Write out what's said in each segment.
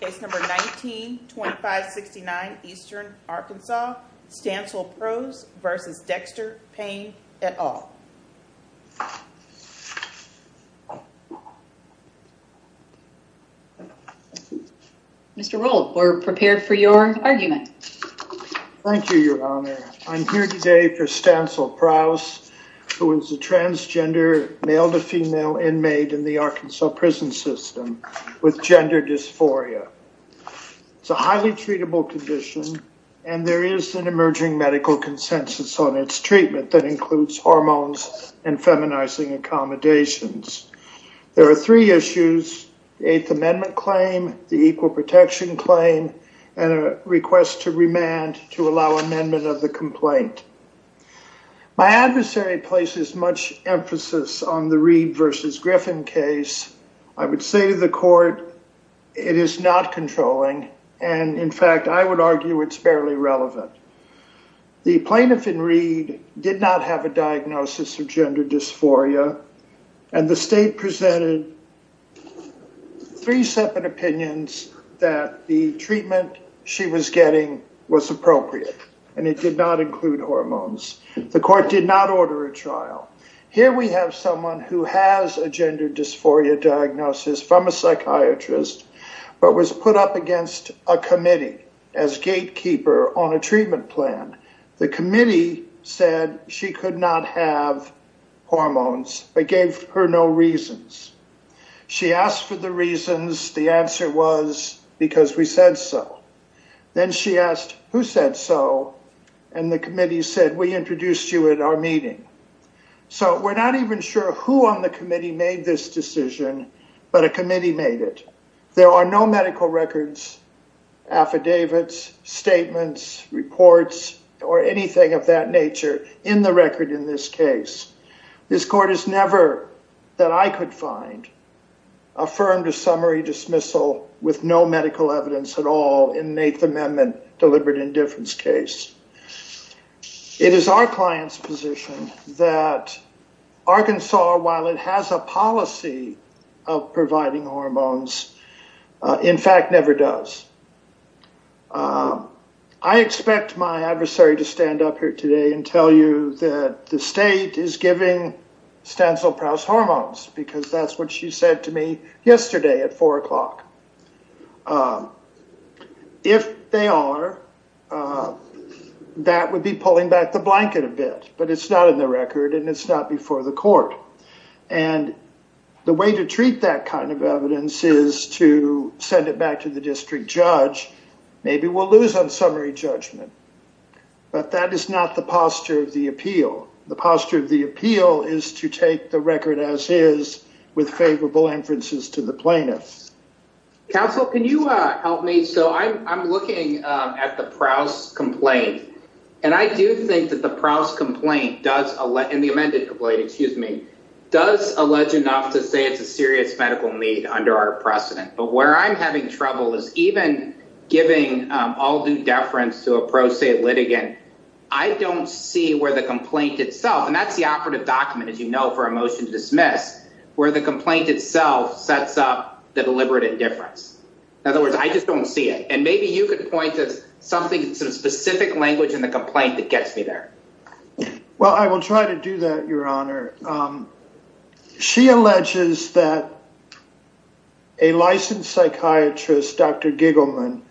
Case number 19-2569 Eastern Arkansas, Stansel Prowse v. Dexter Payne, et al. Mr. Rohlf, we're prepared for your argument. Thank you, Your Honor. I'm here today for Stansel Disphoria. It's a highly treatable condition, and there is an emerging medical consensus on its treatment that includes hormones and feminizing accommodations. There are three issues, the Eighth Amendment claim, the Equal Protection claim, and a request to remand to allow amendment of the complaint. My adversary places much emphasis on the Reed v. Griffin case. I would say to the court, it is not controlling, and in fact, I would argue it's barely relevant. The plaintiff in Reed did not have a diagnosis of gender dysphoria, and the state presented three separate opinions that the treatment she was getting was appropriate, and it did not include hormones. The court did not order a trial. Here we have someone who has a gender dysphoria diagnosis from a psychiatrist, but was put up against a committee as gatekeeper on a treatment plan. The committee said she could not have hormones, but gave her no reasons. She asked for the reasons. The answer was, because we said so. Then she asked, who said so? And the committee said, we introduced you at our meeting. So, we're not even sure who on the committee made this decision, but a committee made it. There are no medical records, affidavits, statements, reports, or anything of that nature in the record in this case. This court has never, that I could find, affirmed a summary dismissal with no medical evidence at all in the Eighth Amendment. It is our client's position that Arkansas, while it has a policy of providing hormones, in fact, never does. I expect my adversary to stand up here today and tell you that the state is giving Stansell-Prowse hormones, because that's what she said to me yesterday at the hearing. The way to treat that kind of evidence is to send it back to the district judge. Maybe we'll lose on summary judgment, but that is not the posture of the appeal. The posture of the appeal is to take the record as is with favorable inferences to the plaintiffs. Counsel, can you help me? So, I'm looking at the Prowse complaint, and I do think that the Prowse complaint does, and the amended complaint, excuse me, does allege enough to say it's a serious medical need under our precedent. But where I'm having trouble is even giving all-due deference to a pro se litigant. I don't see where the complaint itself, and that's the operative document, as you know, for a motion to dismiss, where the complaint itself sets up the deliberate indifference. In other words, I just don't see it. And maybe you could point to some specific language in the complaint that gets me there. Well, I will try to do that, your honor. She alleges that a licensed psychiatrist, Dr. Giggleman,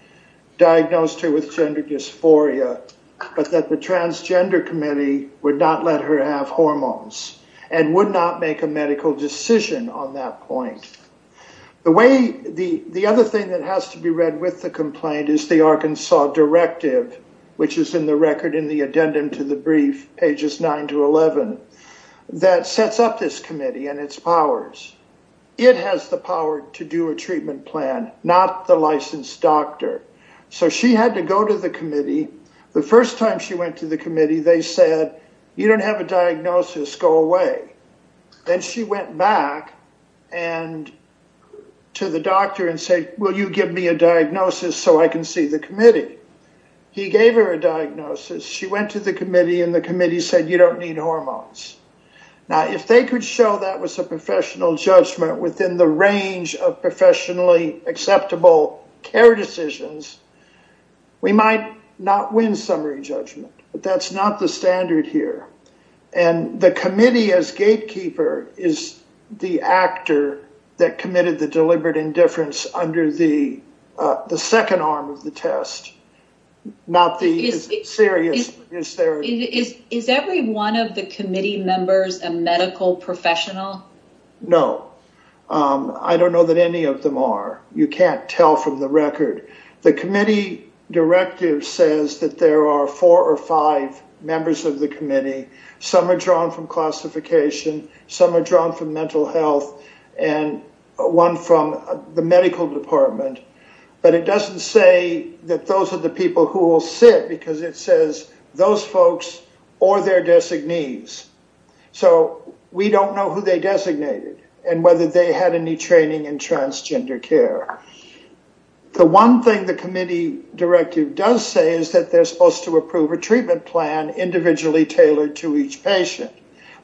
diagnosed her with gender dysphoria, but that the transgender committee would not let her have hormones and would not make a medical decision on that point. The way, the other thing that has to be read with the complaint is the Arkansas directive, which is in the record in the addendum to the brief, pages 9 to 11, that sets up this committee and its powers. It has the power to do a treatment plan, not the licensed doctor. So she had to go to the committee. The first time she went to the committee, they said, you don't have a diagnosis, go away. Then she went back and to the doctor and say, will you give me a diagnosis so I can see the committee? He gave her a diagnosis. She went to the committee and the committee said, you don't need hormones. Now, if they could show that was a acceptable care decisions, we might not win summary judgment, but that's not the standard here. And the committee as gatekeeper is the actor that committed the deliberate indifference under the second arm of the test, not the serious. Is every one of the committee members a medical professional? No. I don't know that any of them are. You can't tell from the record. The committee directive says that there are four or five members of the committee. Some are drawn from classification. Some are drawn from mental health and one from the medical department. But it doesn't say that those are the people who will sit because it says those folks or their designees. So we don't know who they designated and whether they had any training in transgender care. The one thing the committee directive does say is that they're supposed to approve a treatment plan individually tailored to each patient.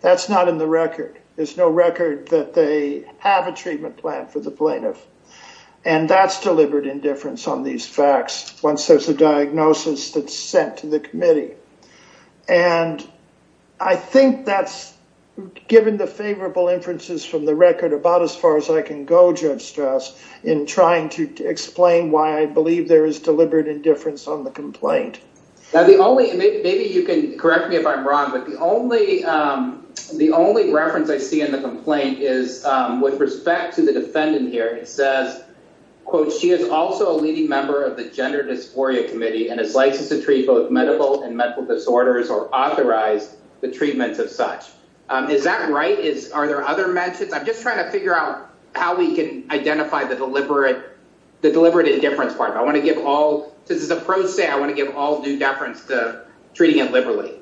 That's not in the record. There's no record that they have a treatment plan for the plaintiff. And that's deliberate indifference on these facts once there's a diagnosis that's sent to the committee. And I think that's given the favorable inferences from the record about as far as I can go, Judge Strass, in trying to explain why I believe there is deliberate indifference on the complaint. Now, the only maybe you can correct me if I'm wrong, but the only the only reference I see in the complaint is with respect to the defendant here. It says, quote, she is also a leading member of the Gender Dysphoria Committee and is licensed to treat both medical and mental disorders or authorize the treatment of such. Is that right? Are there other mentions? I'm just trying to figure out how we can identify the deliberate indifference part. I want to give all this is a pro se. I want to give all due deference to treating it liberally.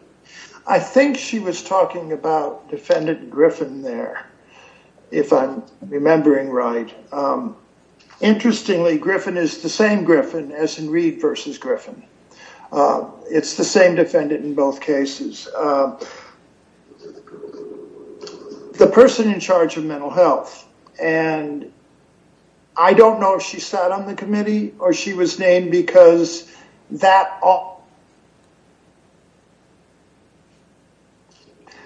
I think she was talking about defendant Griffin there, if I'm remembering right. Interestingly, Griffin is the same Griffin as in Reed versus Griffin. It's the same defendant in both cases. The person in charge of mental health. And I don't know if she sat on the committee or she was named because that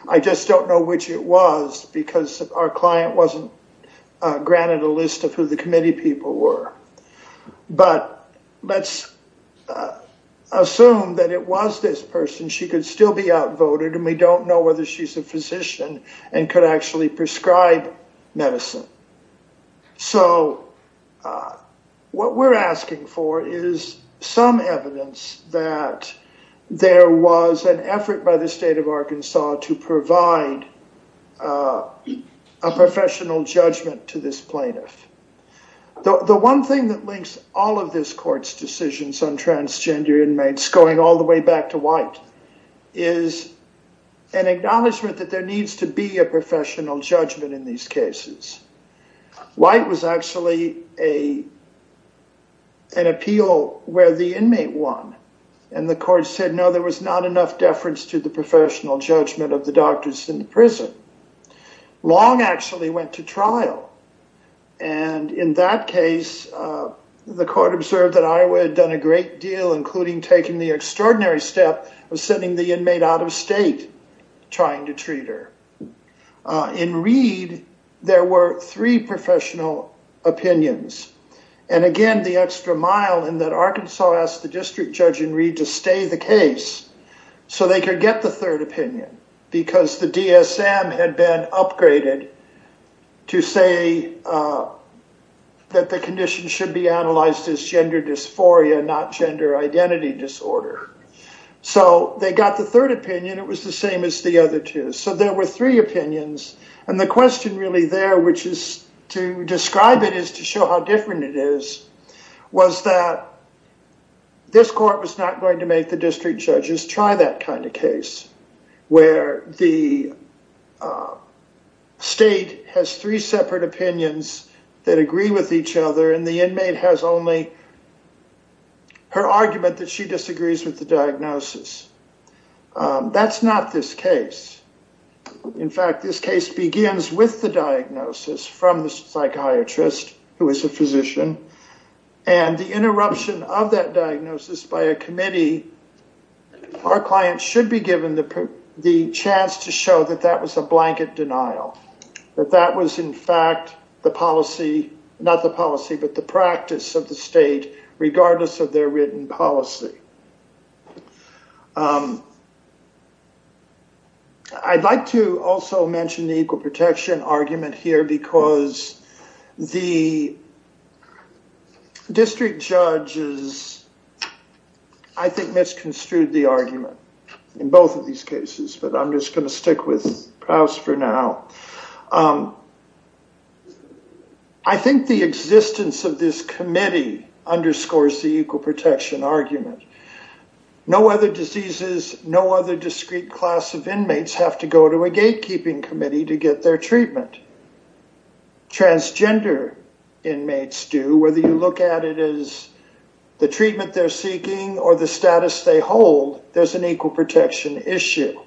I just don't know which it was because our client wasn't granted a list of who the committee people were. But let's assume that it was this person. She could still be outvoted and we don't know whether she's a physician and could actually prescribe medicine. So what we're asking for is some evidence that there was an effort by the state of Arkansas to provide a professional judgment to this plaintiff. The one thing that links all of this court's decisions on transgender inmates going all the way back to White is an acknowledgement that there needs to be a an appeal where the inmate won. And the court said no, there was not enough deference to the professional judgment of the doctors in the prison. Long actually went to trial. And in that case, the court observed that Iowa had done a great deal including taking the extraordinary step of sending the inmate out of state trying to treat her. In Reed, there were three professional opinions. And again, the extra mile in that Arkansas asked the district judge in Reed to stay the case so they could get the third opinion because the DSM had been upgraded to say that the condition should be analyzed as gender dysphoria, not gender identity disorder. So they got the third opinion. It was the same as the other two. So there were three opinions. And the question really there, which is to describe it is to show how different it is, was that this court was not going to make the district judges try that kind of case where the state has three separate opinions that agree with each other and the inmate has only her argument that she disagrees with the diagnosis. That's not this case. In fact, this case begins with the diagnosis from the psychiatrist, who is a physician. And the interruption of that diagnosis by a committee, our client should be given the chance to show that that was a blanket denial. That was in fact the policy, not the policy, but the practice of the state, regardless of their written policy. I'd like to also mention the equal protection argument here because the district judges, I think, misconstrued the argument in both of these cases. But I'm just going to reinforce the equal protection argument. No other diseases, no other discrete class of inmates have to go to a gatekeeping committee to get their treatment. Transgender inmates do, whether you look at it as the treatment they're seeking or the status they hold, there's an equal protection issue.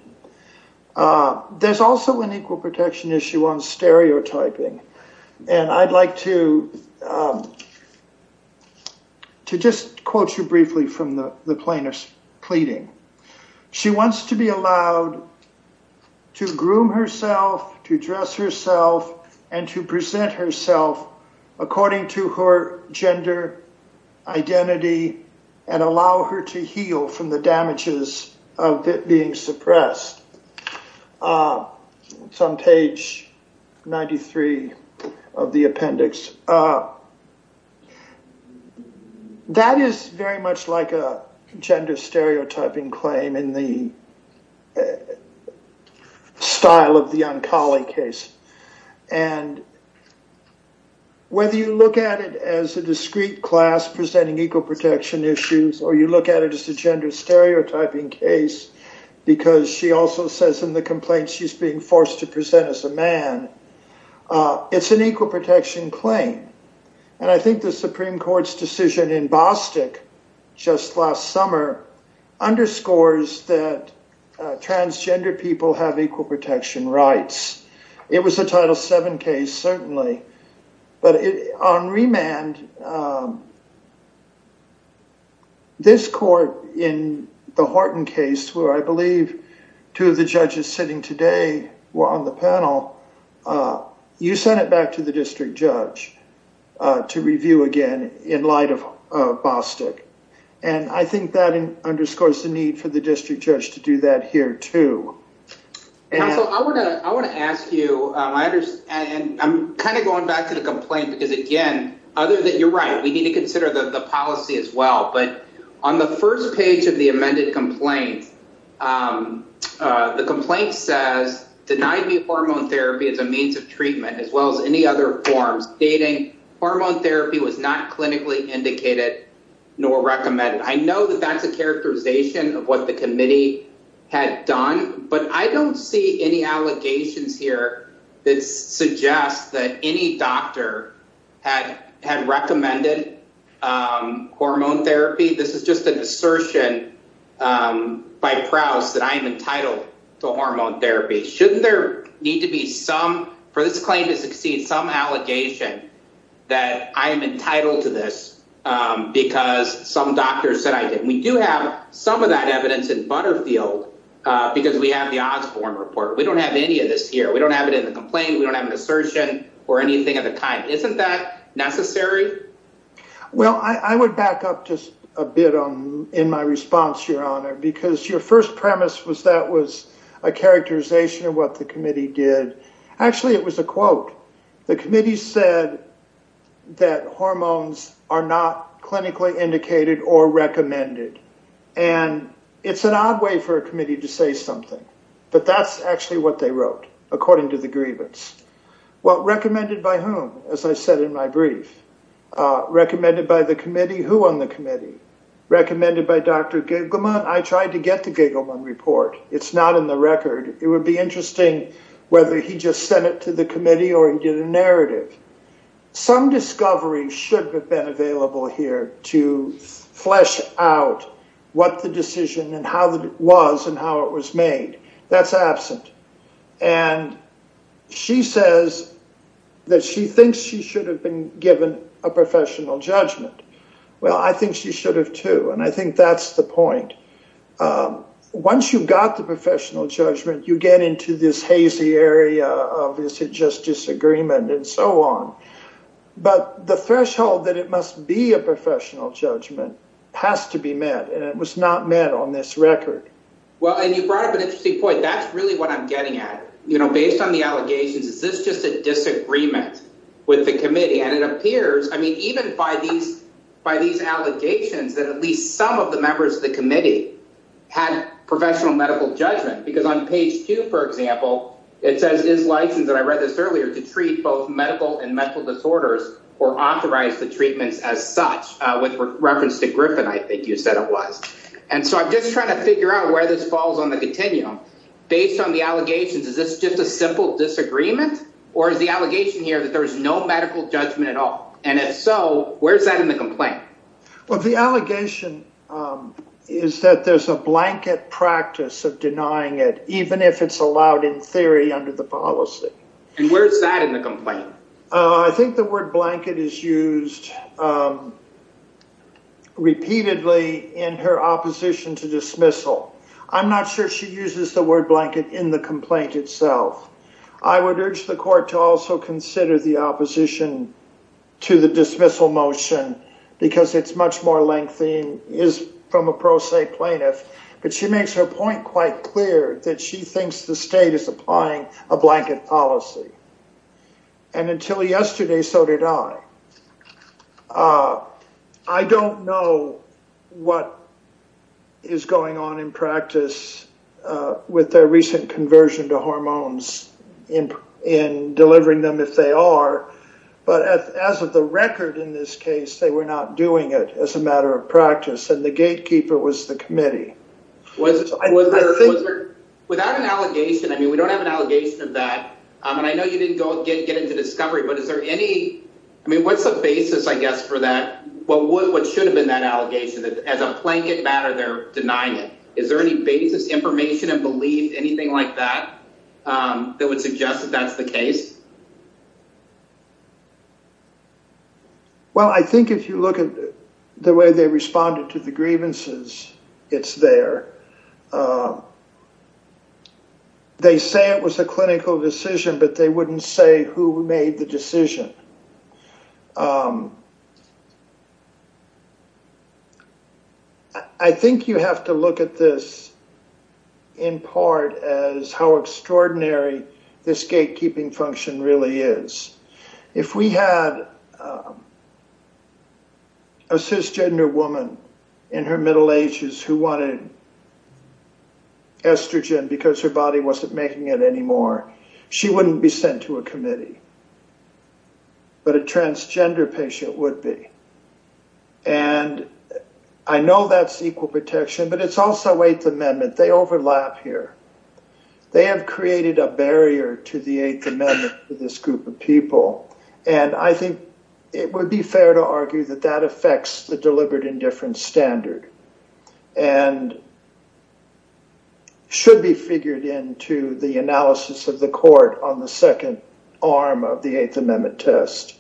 There's also an equal protection issue on stereotyping. And I'd like to just quote you briefly from the plaintiff's pleading. She wants to be allowed to groom herself, to dress herself, and to present herself according to her gender identity and allow her to heal from the damages of it being suppressed. It's on page 93 of the appendix. That is very much like a gender stereotyping claim in the style of the Onkali case. And whether you look at it as a discrete class presenting equal protection issues or you look at it as a gender stereotyping case, because she also says in the complaint she's being forced to present as a man, it's an equal protection claim. And I think the Supreme have equal protection rights. It was a Title VII case, certainly. But on remand, this court in the Horton case, where I believe two of the judges sitting today were on the panel, you sent it back to the district judge to review again in light of Bostic. And I think that Council, I want to ask you, and I'm kind of going back to the complaint, because again, other than you're right, we need to consider the policy as well. But on the first page of the amended complaint, the complaint says, denied me hormone therapy as a means of treatment, as well as any other forms, dating hormone therapy was not clinically indicated nor recommended. I know that that's a characterization of what the committee had done, but I don't see any allegations here that suggest that any doctor had recommended hormone therapy. This is just an assertion by Prowse that I am entitled to hormone therapy. Shouldn't there need to be some, for this claim to succeed, some allegation that I am entitled to this because some doctors said that we do have some of that evidence in Butterfield, because we have the Osborne report. We don't have any of this here. We don't have it in the complaint. We don't have an assertion or anything at the time. Isn't that necessary? Well, I would back up just a bit on in my response, Your Honor, because your first premise was that was a characterization of what the committee did. Actually, it was a quote. The committee said that hormones are not clinically indicated or recommended, and it's an odd way for a committee to say something, but that's actually what they wrote, according to the grievance. Well, recommended by whom, as I said in my brief? Recommended by the committee. Who on the committee? Recommended by Dr. Gagelman. I tried to get the Gagelman report. It's not in the record. It would be interesting whether he just sent it to the committee or he did a narrative. Some discovery should have been available here to flesh out what the decision and how it was and how it was made. That's absent. And she says that she thinks she should have been given a professional judgment. Well, I think she should have, too, and I think that's the point. Once you've got the professional judgment, you get into this hazy area of is it just disagreement and so on. But the threshold that it must be a professional judgment has to be met, and it was not met on this record. Well, and you brought up an interesting point. That's really what I'm getting at. You know, based on the allegations, is this just a disagreement with the committee? And it appears, I mean, even by these by these allegations that at least some of the members of the committee had professional medical judgment, because on page two, for example, it says is licensed, and I read this earlier, to treat both medical and mental disorders or authorize the treatments as such, with reference to Griffin, I think you said it was. And so I'm just trying to figure out where this falls on the continuum. Based on the allegations, is this just a simple disagreement? Or is the allegation here that there's no medical judgment at all? And if so, where's that in the complaint? Well, the allegation is that there's a blanket practice of denying it, even if it's allowed in theory under the policy. And where's that in the complaint? I think the word blanket is used repeatedly in her opposition to dismissal. I'm not sure she uses the word blanket in the complaint itself. I would urge the court to also consider the opposition to the dismissal motion, because it's much more lengthening is from a pro se plaintiff. But she makes her point quite clear that she thinks the state is applying a blanket policy. And until yesterday, so did I. I don't know what is going on in practice with their recent conversion to hormones in in delivering them if they are. But as of the record in this case, they were not doing it as a matter of practice. And the gatekeeper was the committee. Without an allegation, I mean, we don't have an allegation of that. And I know you didn't go get get into discovery. But is there any I mean, what's the basis, I guess, for that? What would what should have been that allegation that as a blanket matter, they're denying it? Is there any basis, information and belief, anything like that, that would suggest that that's the case? Well, I think if you look at the way they responded to the grievances, it's there. They say it was a clinical decision, but they wouldn't say who made the decision. I think you have to look at this in part as how extraordinary this gatekeeping function really is. If we had a cisgender woman in her middle ages who wanted estrogen because her body wasn't making it anymore, she wouldn't be sent to a committee. But a transgender patient would be. And I know that's equal protection, but it's also Eighth Amendment. They overlap here. They have created a barrier to the Eighth Amendment for this group of people. And I think it would be fair to argue that that affects the deliberate indifference standard and should be figured into the analysis of the court on the second arm of the Eighth Amendment test.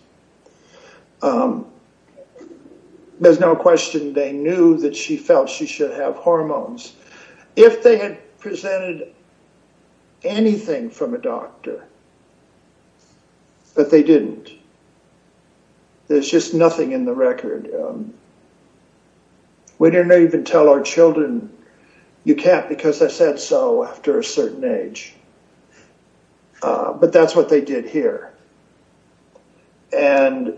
There's no question they knew that she felt she should have hormones if they had presented anything from a doctor. But they didn't. There's just nothing in the record. We didn't even tell our children you can't because I said so after a certain age. But that's what they did here. And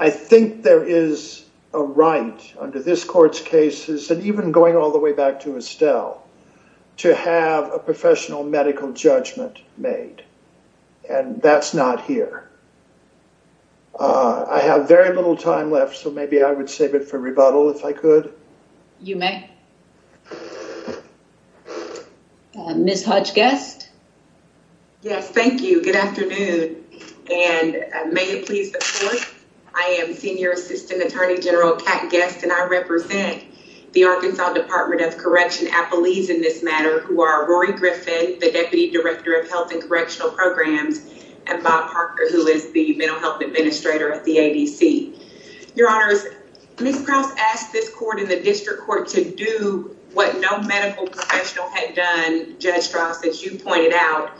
I think there is a right under this court's cases and even going all the way back to Estelle to have a professional medical judgment made. And that's not here. I have very little time left, so maybe I would save it for rebuttal if I could. You may. Ms. Hutch guest. Yes, thank you. Good afternoon. And may it please the court. I am Senior Assistant Attorney General Kat Guest, and I represent the Arkansas Department of Correction, Appalese in this matter, who are Rory Griffin, the Deputy Director of Health and Correctional Programs, and Bob Parker, who is the Mental Health Administrator at the ADC. Your Honors, Ms. Krause asked this court in the district court to do what no medical professional had done, Judge Krause, as you pointed out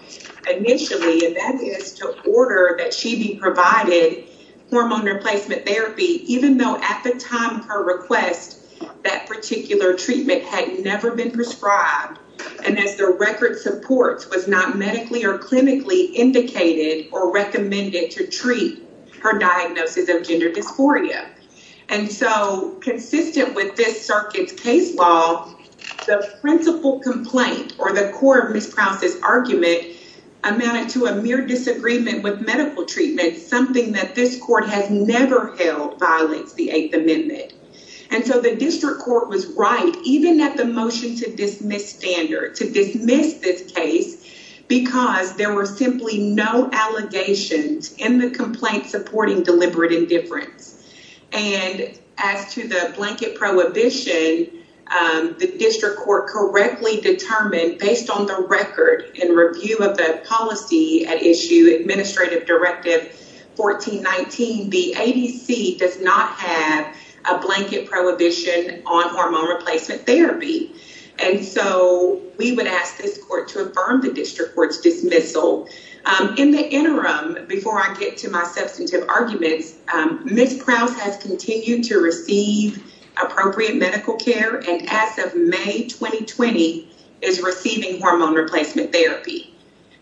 initially, and that is to order that she be provided hormone replacement therapy, even though at the time of her request, that particular treatment had never been prescribed. And as the record supports, was not medically or clinically indicated or recommended to treat her diagnosis of gender dysphoria. And so consistent with this circuit's case law, the principal complaint or the core of Ms. Krause's argument amounted to a mere disagreement with medical treatment, something that this court has never held violates the Eighth Amendment. And so the district court was right, even at the motion to dismiss this standard, to dismiss this case, because there were simply no allegations in the complaint supporting deliberate indifference. And as to the blanket prohibition, the district court correctly determined, based on the record and review of the policy at issue, Administrative Directive 1419, the ADC does not have a blanket prohibition on hormone replacement therapy. And so we would ask this court to affirm the district court's dismissal. In the interim, before I get to my substantive arguments, Ms. Krause has continued to receive appropriate medical care and as of May 2020 is receiving hormone replacement therapy.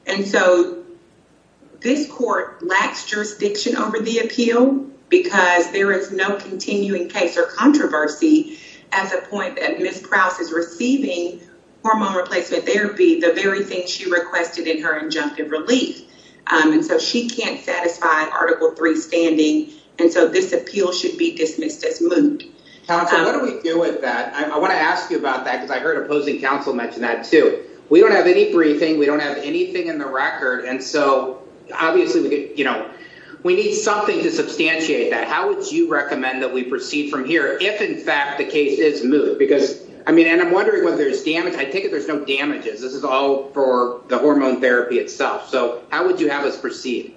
And so this court lacks jurisdiction over the appeal because there is no continuing case or controversy as a point that Ms. Krause is receiving hormone replacement therapy, the very thing she requested in her injunctive relief. And so she can't satisfy Article 3 standing. And so this appeal should be dismissed as moved. Counsel, what do we do with that? I want to ask you about that because I heard opposing counsel mention that too. We don't have any briefing. We don't have anything in the record. And so obviously, you know, we need something to substantiate that. How would you recommend that we proceed from here if in fact the case is moved? Because I mean, and I'm wondering whether there's damage. I take it there's no damages. This is all for the hormone therapy itself. So how would you have us proceed?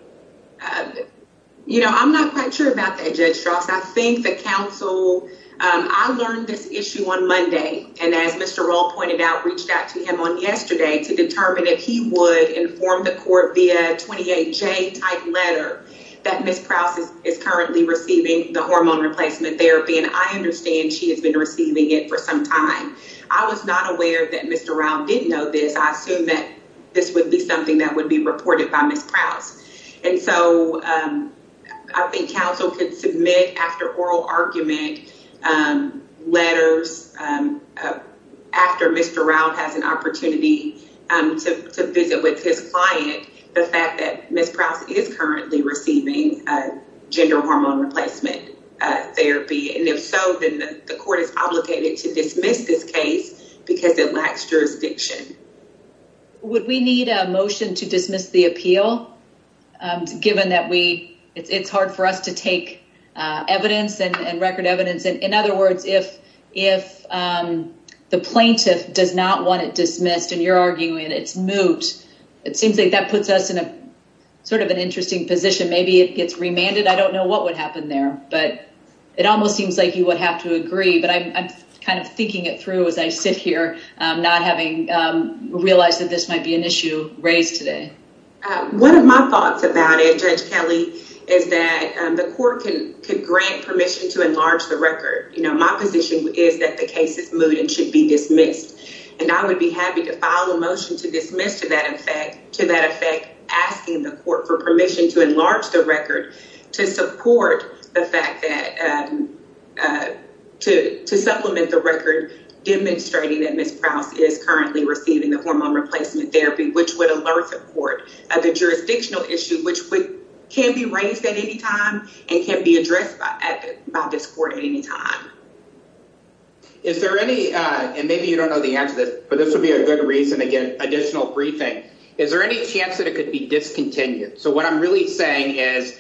You know, I'm not quite sure about that, Judge Strauss. I think counsel, I learned this issue on Monday. And as Mr. Rowe pointed out, reached out to him on yesterday to determine if he would inform the court via 28J type letter that Ms. Krause is currently receiving the hormone replacement therapy. And I understand she has been receiving it for some time. I was not aware that Mr. Rowe didn't know this. I assume that this would be reported by Ms. Krause. And so I think counsel could submit after oral argument letters after Mr. Rowe has an opportunity to visit with his client the fact that Ms. Krause is currently receiving gender hormone replacement therapy. And if so, then the court is obligated to dismiss this motion. Would we need a motion to dismiss the appeal given that it's hard for us to take evidence and record evidence? In other words, if the plaintiff does not want it dismissed, and you're arguing it's moot, it seems like that puts us in a sort of an interesting position. Maybe it gets remanded. I don't know what would happen there, but it almost seems like you would to agree. But I'm kind of thinking it through as I sit here, not having realized that this might be an issue raised today. One of my thoughts about it, Judge Kelly, is that the court could grant permission to enlarge the record. My position is that the case is moot and should be dismissed. And I would be happy to file a motion to dismiss to that effect, asking the court for permission to to supplement the record demonstrating that Ms. Krause is currently receiving the hormone replacement therapy, which would alert the court of the jurisdictional issue, which can be raised at any time and can be addressed by this court at any time. Is there any, and maybe you don't know the answer to this, but this would be a good reason to get additional briefing. Is there any chance that it could be discontinued? So what I'm really saying is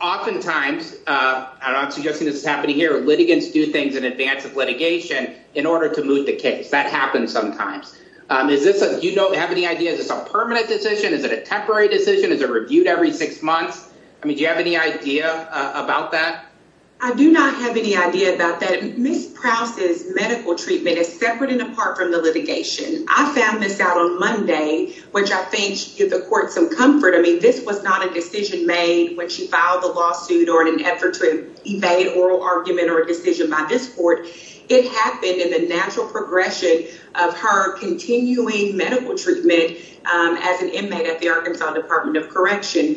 oftentimes, and I'm suggesting this is happening here, litigants do things in advance of litigation in order to moot the case. That happens sometimes. Is this a, you don't have any idea, is this a permanent decision? Is it a temporary decision? Is it reviewed every six months? I mean, do you have any idea about that? I do not have any idea about that. Ms. Krause's medical treatment is separate and apart from the litigation. I found this out on Monday, which I think gives the court some comfort. I mean, this was not a decision made when she filed the lawsuit or in an effort to evade oral argument or a decision by this court. It happened in the natural progression of her continuing medical treatment as an inmate at the Arkansas Department of Correction.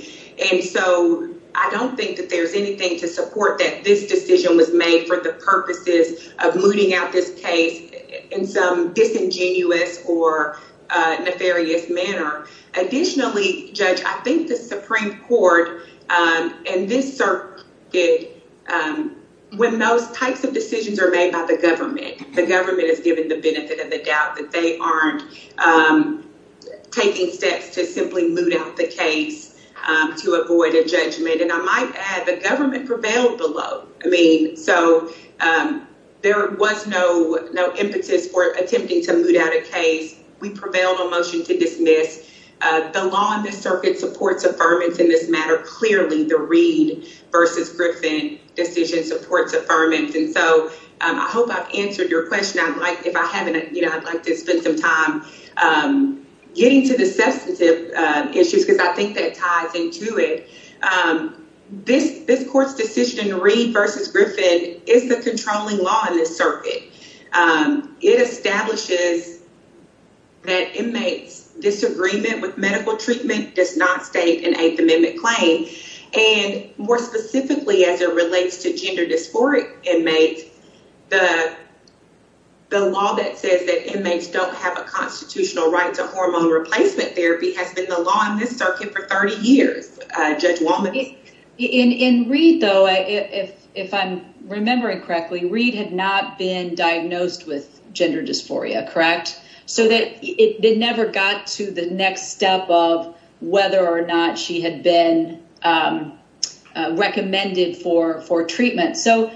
And so I don't think that there's anything to support that this decision was made for the purposes of mooting out this case in some disingenuous or nefarious manner. Additionally, Judge, I think the Supreme Court in this circuit, when those types of decisions are made by the government, the government is given the benefit of the doubt that they aren't taking steps to simply moot out the case to avoid a judgment. And I might add, the government prevailed below. I know there was no impetus for attempting to moot out a case. We prevailed on motion to dismiss. The law in this circuit supports affirmance in this matter. Clearly, the Reed versus Griffin decision supports affirmance. And so I hope I've answered your question. I'd like, if I haven't, you know, I'd like to spend some time getting to the substantive issues because I think that ties into it. This court's decision, Reed versus Griffin, is the controlling law in this circuit. It establishes that inmates' disagreement with medical treatment does not state an Eighth Amendment claim. And more specifically, as it relates to gender dysphoric inmates, the law that says that inmates don't have a constitutional right to hormone replacement therapy has been the law in this circuit for 30 years, Judge Walman. In Reed though, if I'm remembering correctly, Reed had not been diagnosed with gender dysphoria, correct? So that it never got to the next step of whether or not she had been recommended for treatment. So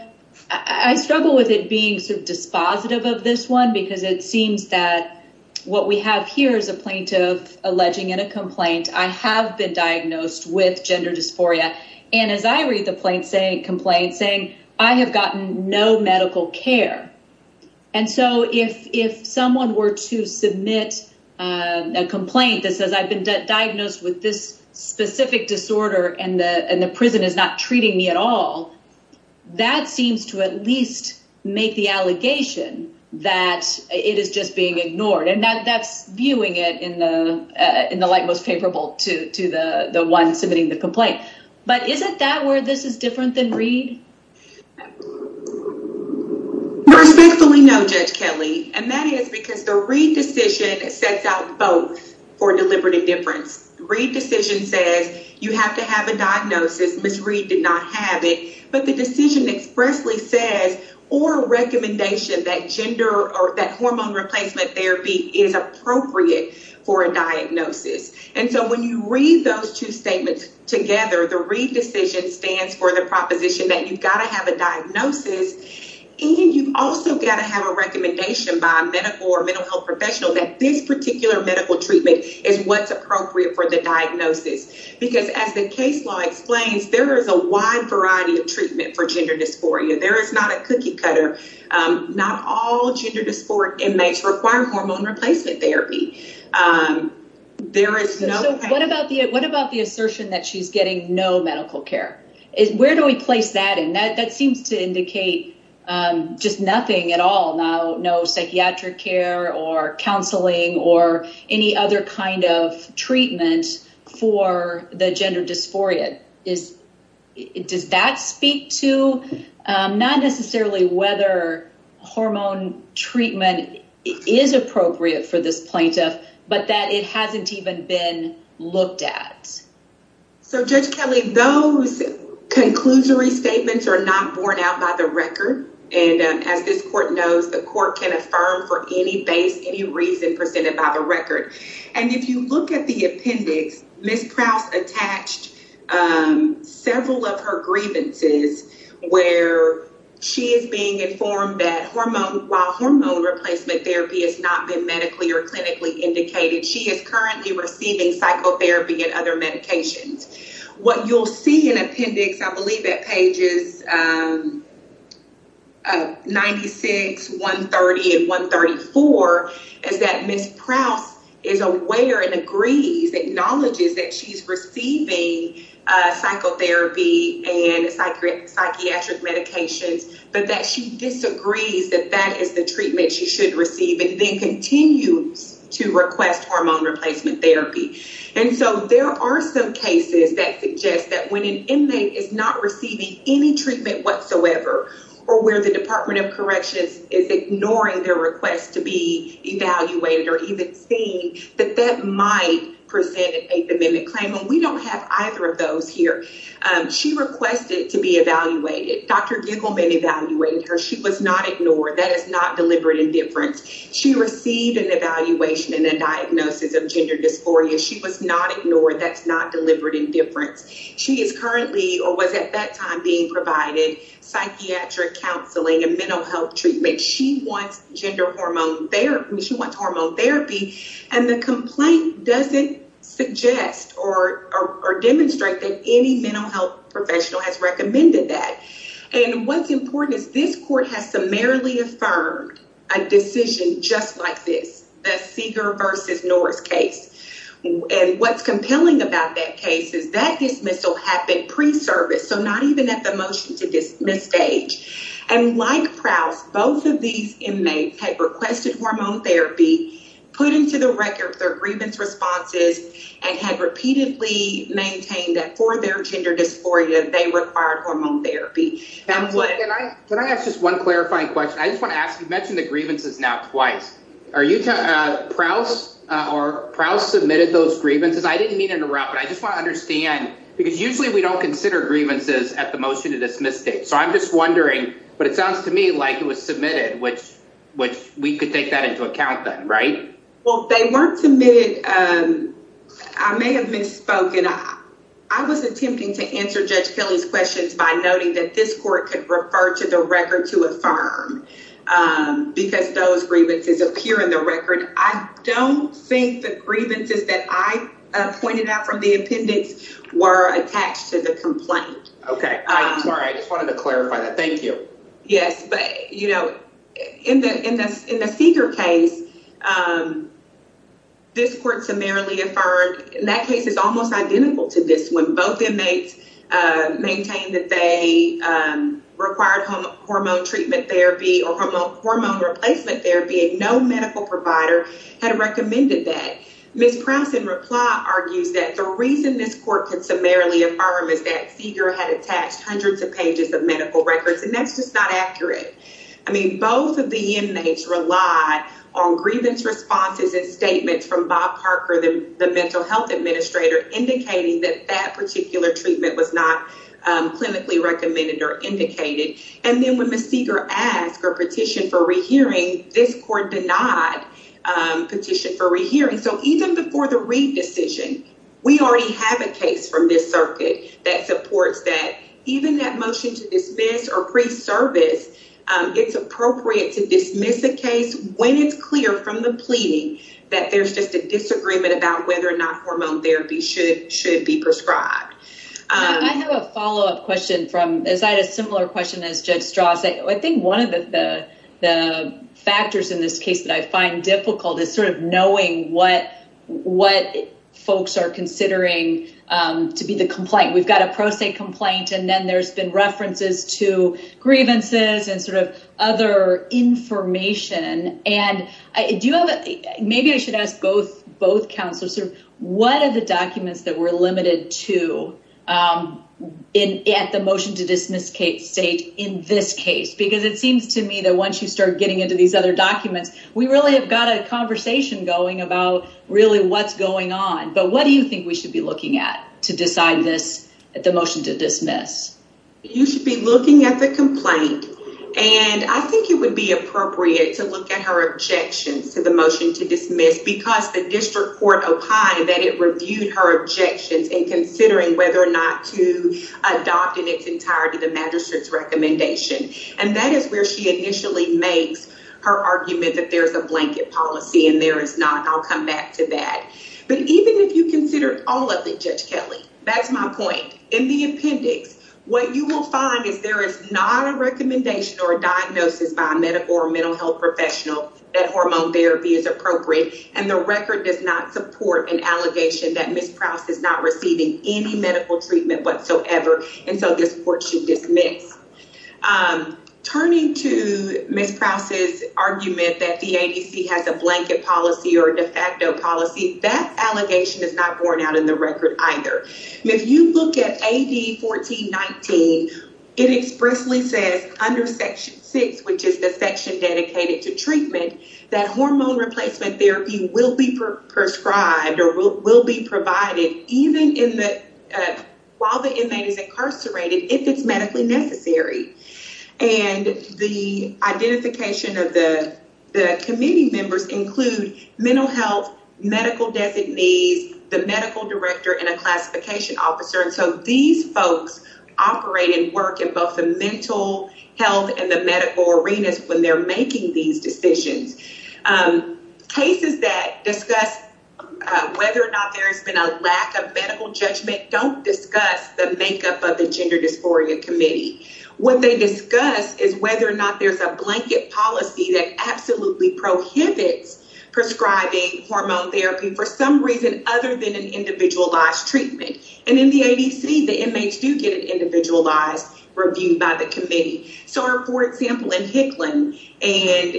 I struggle with it being sort of dispositive of this one because it seems that what we have here is a plaintiff alleging in a complaint, I have been diagnosed with gender dysphoria. And as I read the complaint saying, I have gotten no medical care. And so if someone were to submit a complaint that says I've been diagnosed with this specific disorder and the prison is not treating me at all, that seems to at least make the allegation that it is just being ignored. And that's viewing it in the light most capable to the one submitting the complaint. But isn't that where this is different than Reed? Respectfully no, Judge Kelly. And that is because the Reed decision sets out both for deliberative difference. Reed decision says you have to have a diagnosis. Miss Reed did not have but the decision expressly says or recommendation that gender or that hormone replacement therapy is appropriate for a diagnosis. And so when you read those two statements together, the Reed decision stands for the proposition that you've got to have a diagnosis. And you've also got to have a recommendation by a medical or mental health professional that this particular medical treatment is what's appropriate for the diagnosis. Because as the case law explains, there is a wide variety of treatment for gender dysphoria. There is not a cookie cutter. Not all gender dysphoric inmates require hormone replacement therapy. What about the assertion that she's getting no medical care? Where do we place that? And that seems to indicate just nothing at all. No psychiatric care or counseling or any other kind of treatment for the gender dysphoria. Does that speak to not necessarily whether hormone treatment is appropriate for this plaintiff, but that it hasn't even been looked at? So Judge Kelly, those conclusory statements are not borne out by the record. And if you look at the appendix, Ms. Prouse attached several of her grievances where she is being informed that while hormone replacement therapy has not been medically or clinically indicated, she is currently receiving psychotherapy and other medications. What you'll see in appendix, I believe at pages 96, 130, and 134, is that Ms. Prouse is aware and agrees, acknowledges that she's receiving psychotherapy and psychiatric medications, but that she disagrees that that is the treatment she should receive and then continues to request hormone replacement therapy. And so there are some cases that suggest that when an inmate is not receiving any treatment whatsoever, or where the Department of Corrections is ignoring their request to be evaluated or even seen, that that might present an Eighth Amendment claim. And we don't have either of those here. She requested to be evaluated. Dr. Giggleman evaluated her. She was not ignored. That is not deliberate indifference. She received an evaluation and a diagnosis of gender dysphoria. She was not ignored. That's not deliberate indifference. She is currently or was at that time being provided psychiatric counseling and mental health treatment. She wants hormone therapy. And the complaint doesn't suggest or demonstrate that any mental professional has recommended that. And what's important is this court has summarily affirmed a decision just like this, the Seeger versus Norris case. And what's compelling about that case is that dismissal happened pre-service, so not even at the motion to dismiss stage. And like Prouse, both of these inmates had requested hormone therapy, put into the record their grievance responses, and had repeatedly maintained that for their gender dysphoria, they required hormone therapy. Can I ask just one clarifying question? I just want to ask, you mentioned the grievances now twice. Are you Prouse or Prouse submitted those grievances? I didn't mean to interrupt, but I just want to understand, because usually we don't consider grievances at the motion to dismiss stage. So I'm just wondering, but it sounds to me like it was submitted. I may have misspoken. I was attempting to answer Judge Kelly's questions by noting that this court could refer to the record to affirm, because those grievances appear in the record. I don't think the grievances that I pointed out from the appendix were attached to the complaint. Okay. I'm sorry. I just wanted to clarify that. Thank you. Yes. But, you know, in the Seeger case, this court summarily affirmed, and that case is almost identical to this one. Both inmates maintained that they required hormone treatment therapy or hormone replacement therapy, and no medical provider had recommended that. Ms. Prouse in reply argues that the reason this court could summarily affirm is that I mean, both of the inmates relied on grievance responses and statements from Bob Parker, the mental health administrator, indicating that that particular treatment was not clinically recommended or indicated. And then when Ms. Seeger asked for a petition for rehearing, this court denied a petition for rehearing. So even before the Reed decision, we already have a case from this circuit that supports that. Even that motion to dismiss or resurface, it's appropriate to dismiss a case when it's clear from the pleading that there's just a disagreement about whether or not hormone therapy should be prescribed. I have a follow-up question from, as I had a similar question as Judge Strauss. I think one of the factors in this case that I find difficult is sort of knowing what folks are considering to be the complaint. We've got a pro se complaint, and then there's been references to grievances and sort of other information. Maybe I should ask both counselors, what are the documents that we're limited to at the motion to dismiss state in this case? Because it seems to me that once you start getting into these other documents, we really have got a conversation going about really what's going on. But what do you think we should be looking at to decide this at the motion to dismiss? You should be looking at the complaint, and I think it would be appropriate to look at her objections to the motion to dismiss because the district court opined that it reviewed her objections in considering whether or not to adopt in its entirety the magistrate's recommendation. And that is where she initially makes her argument that there's a blanket policy, and there is not. I'll come back to that. But even if you consider all of it, Judge Kelly, that's my point. In the appendix, what you will find is there is not a recommendation or a diagnosis by a medical or mental health professional that hormone therapy is appropriate, and the record does not support an allegation that Ms. Prowse is not receiving any medical treatment whatsoever, and so this court should dismiss. Turning to Ms. Prowse's argument that the ADC has a blanket policy or de facto policy, that allegation is not borne out in the record either. If you look at AD 1419, it expressly says under Section 6, which is the section dedicated to treatment, that hormone replacement therapy will be prescribed or will be provided even while the person is incarcerated if it's medically necessary. And the identification of the committee members include mental health, medical designees, the medical director, and a classification officer. And so these folks operate and work in both the mental health and the medical arenas when they're making these decisions. Cases that discuss whether or not there's been a lack of medical judgment don't discuss the makeup of the gender dysphoria committee. What they discuss is whether or not there's a blanket policy that absolutely prohibits prescribing hormone therapy for some reason other than an individualized treatment. And in the ADC, the inmates do get an individualized review by the committee. So for example, in Hicklin and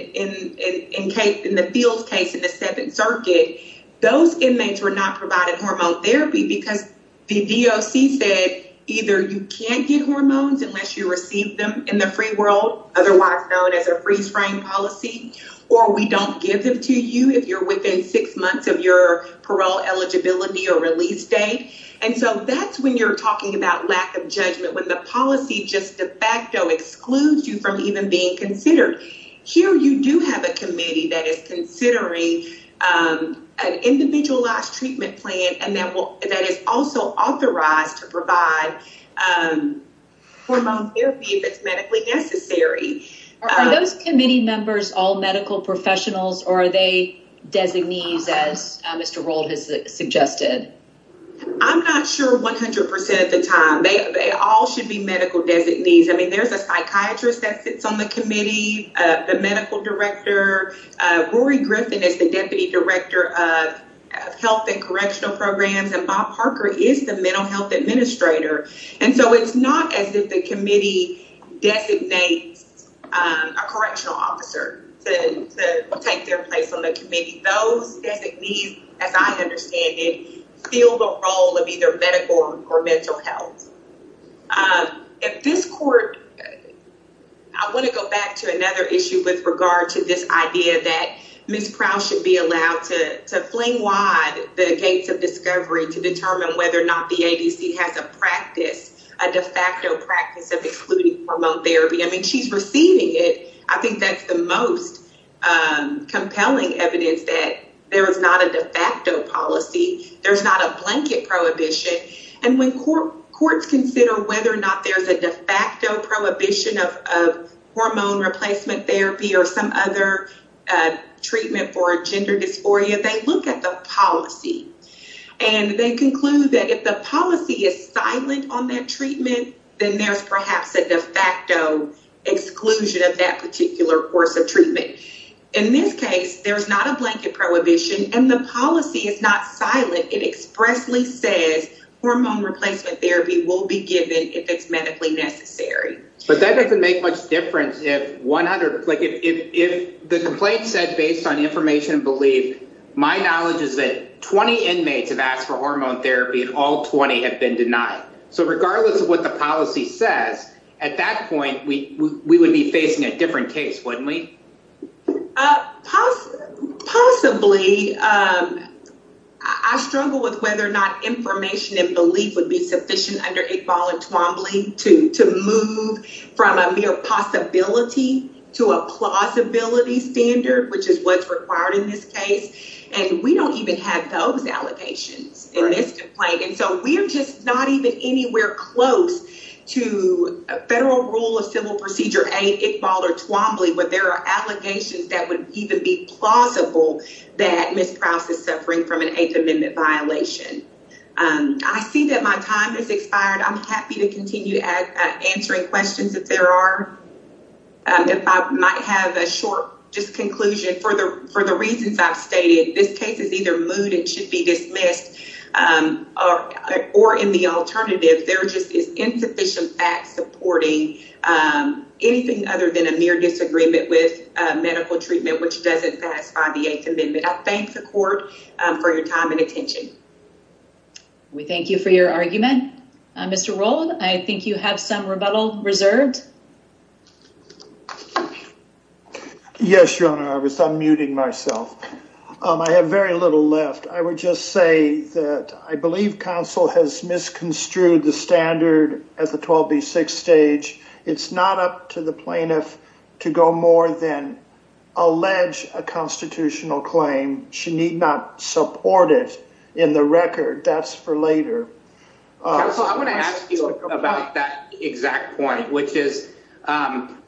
in the Fields case in the Seventh Circuit, those inmates were not provided hormone therapy because the DOC said either you can't get hormones unless you receive them in the free world, otherwise known as a freeze frame policy, or we don't give them to you if you're within six months of your parole eligibility or release date. And so that's when you're talking about lack of judgment, when the policy just de facto excludes you from even being considered. Here you do have a committee that is considering an individualized treatment plan and that is also authorized to provide hormone therapy if it's medically necessary. Are those committee members all medical professionals or are they designees as Mr. Roll has suggested? I'm not sure 100 percent of the time. They all should be medical designees. I mean there's a psychiatrist that sits on the committee, the medical director, Rory Griffin is the deputy director of health and correctional programs, and Bob Parker is the mental health administrator. And so it's not as if the committee designates a correctional officer to take their place on the committee. Those designees, as I understand it, fill the role of either medical or mental health. At this court, I want to go back to another issue with regard to this idea that Ms. Prowse should be allowed to fling wide the gates of discovery to determine whether or not the ADC has a practice, a de facto practice of excluding hormone therapy. I mean she's receiving it. I think that's the most compelling evidence that there is not a policy. There's not a blanket prohibition. And when courts consider whether or not there's a prohibition of hormone replacement therapy or some other treatment for gender dysphoria, they look at the policy and they conclude that if the policy is silent on that treatment, then there's perhaps a de facto exclusion of that particular course of treatment. In this case, there's not a blanket prohibition and the policy is not silent. It expressly says hormone replacement therapy will be given if it's medically necessary. But that doesn't make much difference if the complaint said based on information and belief, my knowledge is that 20 inmates have asked for hormone therapy and all 20 have been denied. So regardless of what the policy says, at that point, we would be facing a different case, wouldn't we? Possibly. I struggle with whether or not information and belief would be sufficient under Iqbal and Twombly to move from a mere possibility to a plausibility standard, which is what's required in this case. And we don't even have those allegations in this complaint. And so we're just not even anywhere close to a federal rule of civil procedure, Iqbal or Twombly, where there are allegations that would even be plausible that Ms. Prowse is suffering from an Eighth Amendment violation. I see that my time has expired. I'm happy to continue answering questions if there are. If I might have a short just conclusion for the reasons I've stated, this case is either moved and should be dismissed or in the alternative, there just is insufficient facts supporting anything other than a mere disagreement with medical treatment, which doesn't satisfy the Eighth Amendment. I thank the court for your time and attention. We thank you for your argument. Mr. Rowland, I think you have some rebuttal reserved. Yes, Your Honor, I was unmuting myself. I have very little left. I would just say that I believe counsel has misconstrued the standard at the 12B6 stage. It's not up to the plaintiff to go more than allege a constitutional claim. She need not support it in the record. That's for later. So I want to ask you about that exact point, which is I'm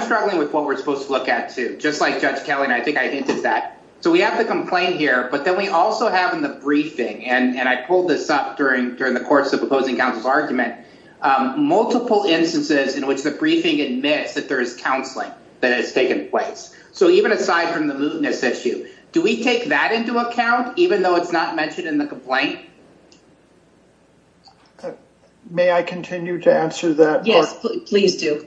struggling with what we're supposed to look at, too, just like Judge Kelly, and I think I hinted at that. So we have the complaint here, but then we also have in the briefing, and I pulled this up during the course of opposing counsel's argument, multiple instances in which the briefing admits that there is counseling that has taken place. So even aside from the mootness issue, do we take that into account, even though it's not mentioned in the complaint? May I continue to answer that? Yes, please do.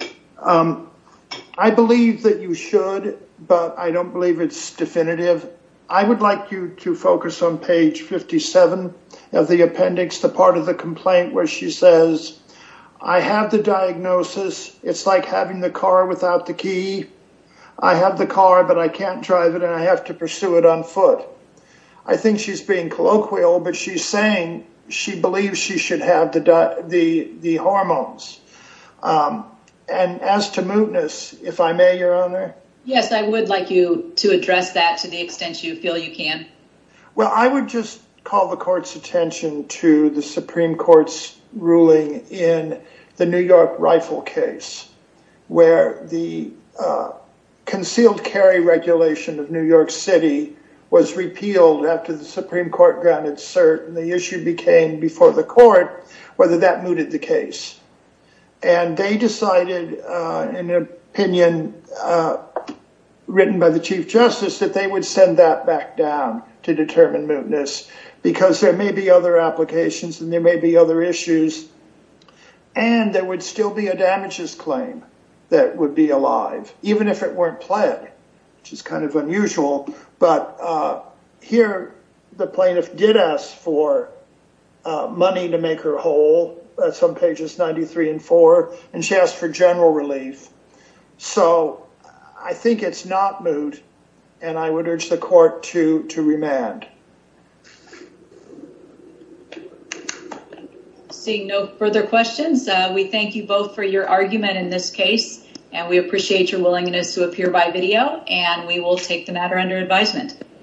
I believe that you should, but I don't believe it's definitive. I would like you to focus on page 57 of the appendix, the part of the complaint where she says, I have the diagnosis. It's like having the car without the key. I have the car, but I can't drive it, and I have to pursue it on foot. I think she's being colloquial, but she's believing she should have the hormones. And as to mootness, if I may, Your Honor? Yes, I would like you to address that to the extent you feel you can. Well, I would just call the court's attention to the Supreme Court's ruling in the New York rifle case, where the concealed carry regulation of New York City was repealed after the Supreme Court came before the court, whether that mooted the case. And they decided in an opinion written by the Chief Justice that they would send that back down to determine mootness, because there may be other applications, and there may be other issues, and there would still be a damages claim that would be alive, even if it weren't pled, which is kind of unusual. But here, the plaintiff did ask for money to make her whole, that's on pages 93 and 94, and she asked for general relief. So I think it's not moot, and I would urge the court to remand. Seeing no further questions, we thank you both for your argument in this case, and we appreciate your willingness to appear by video, and we will take the matter under advisement.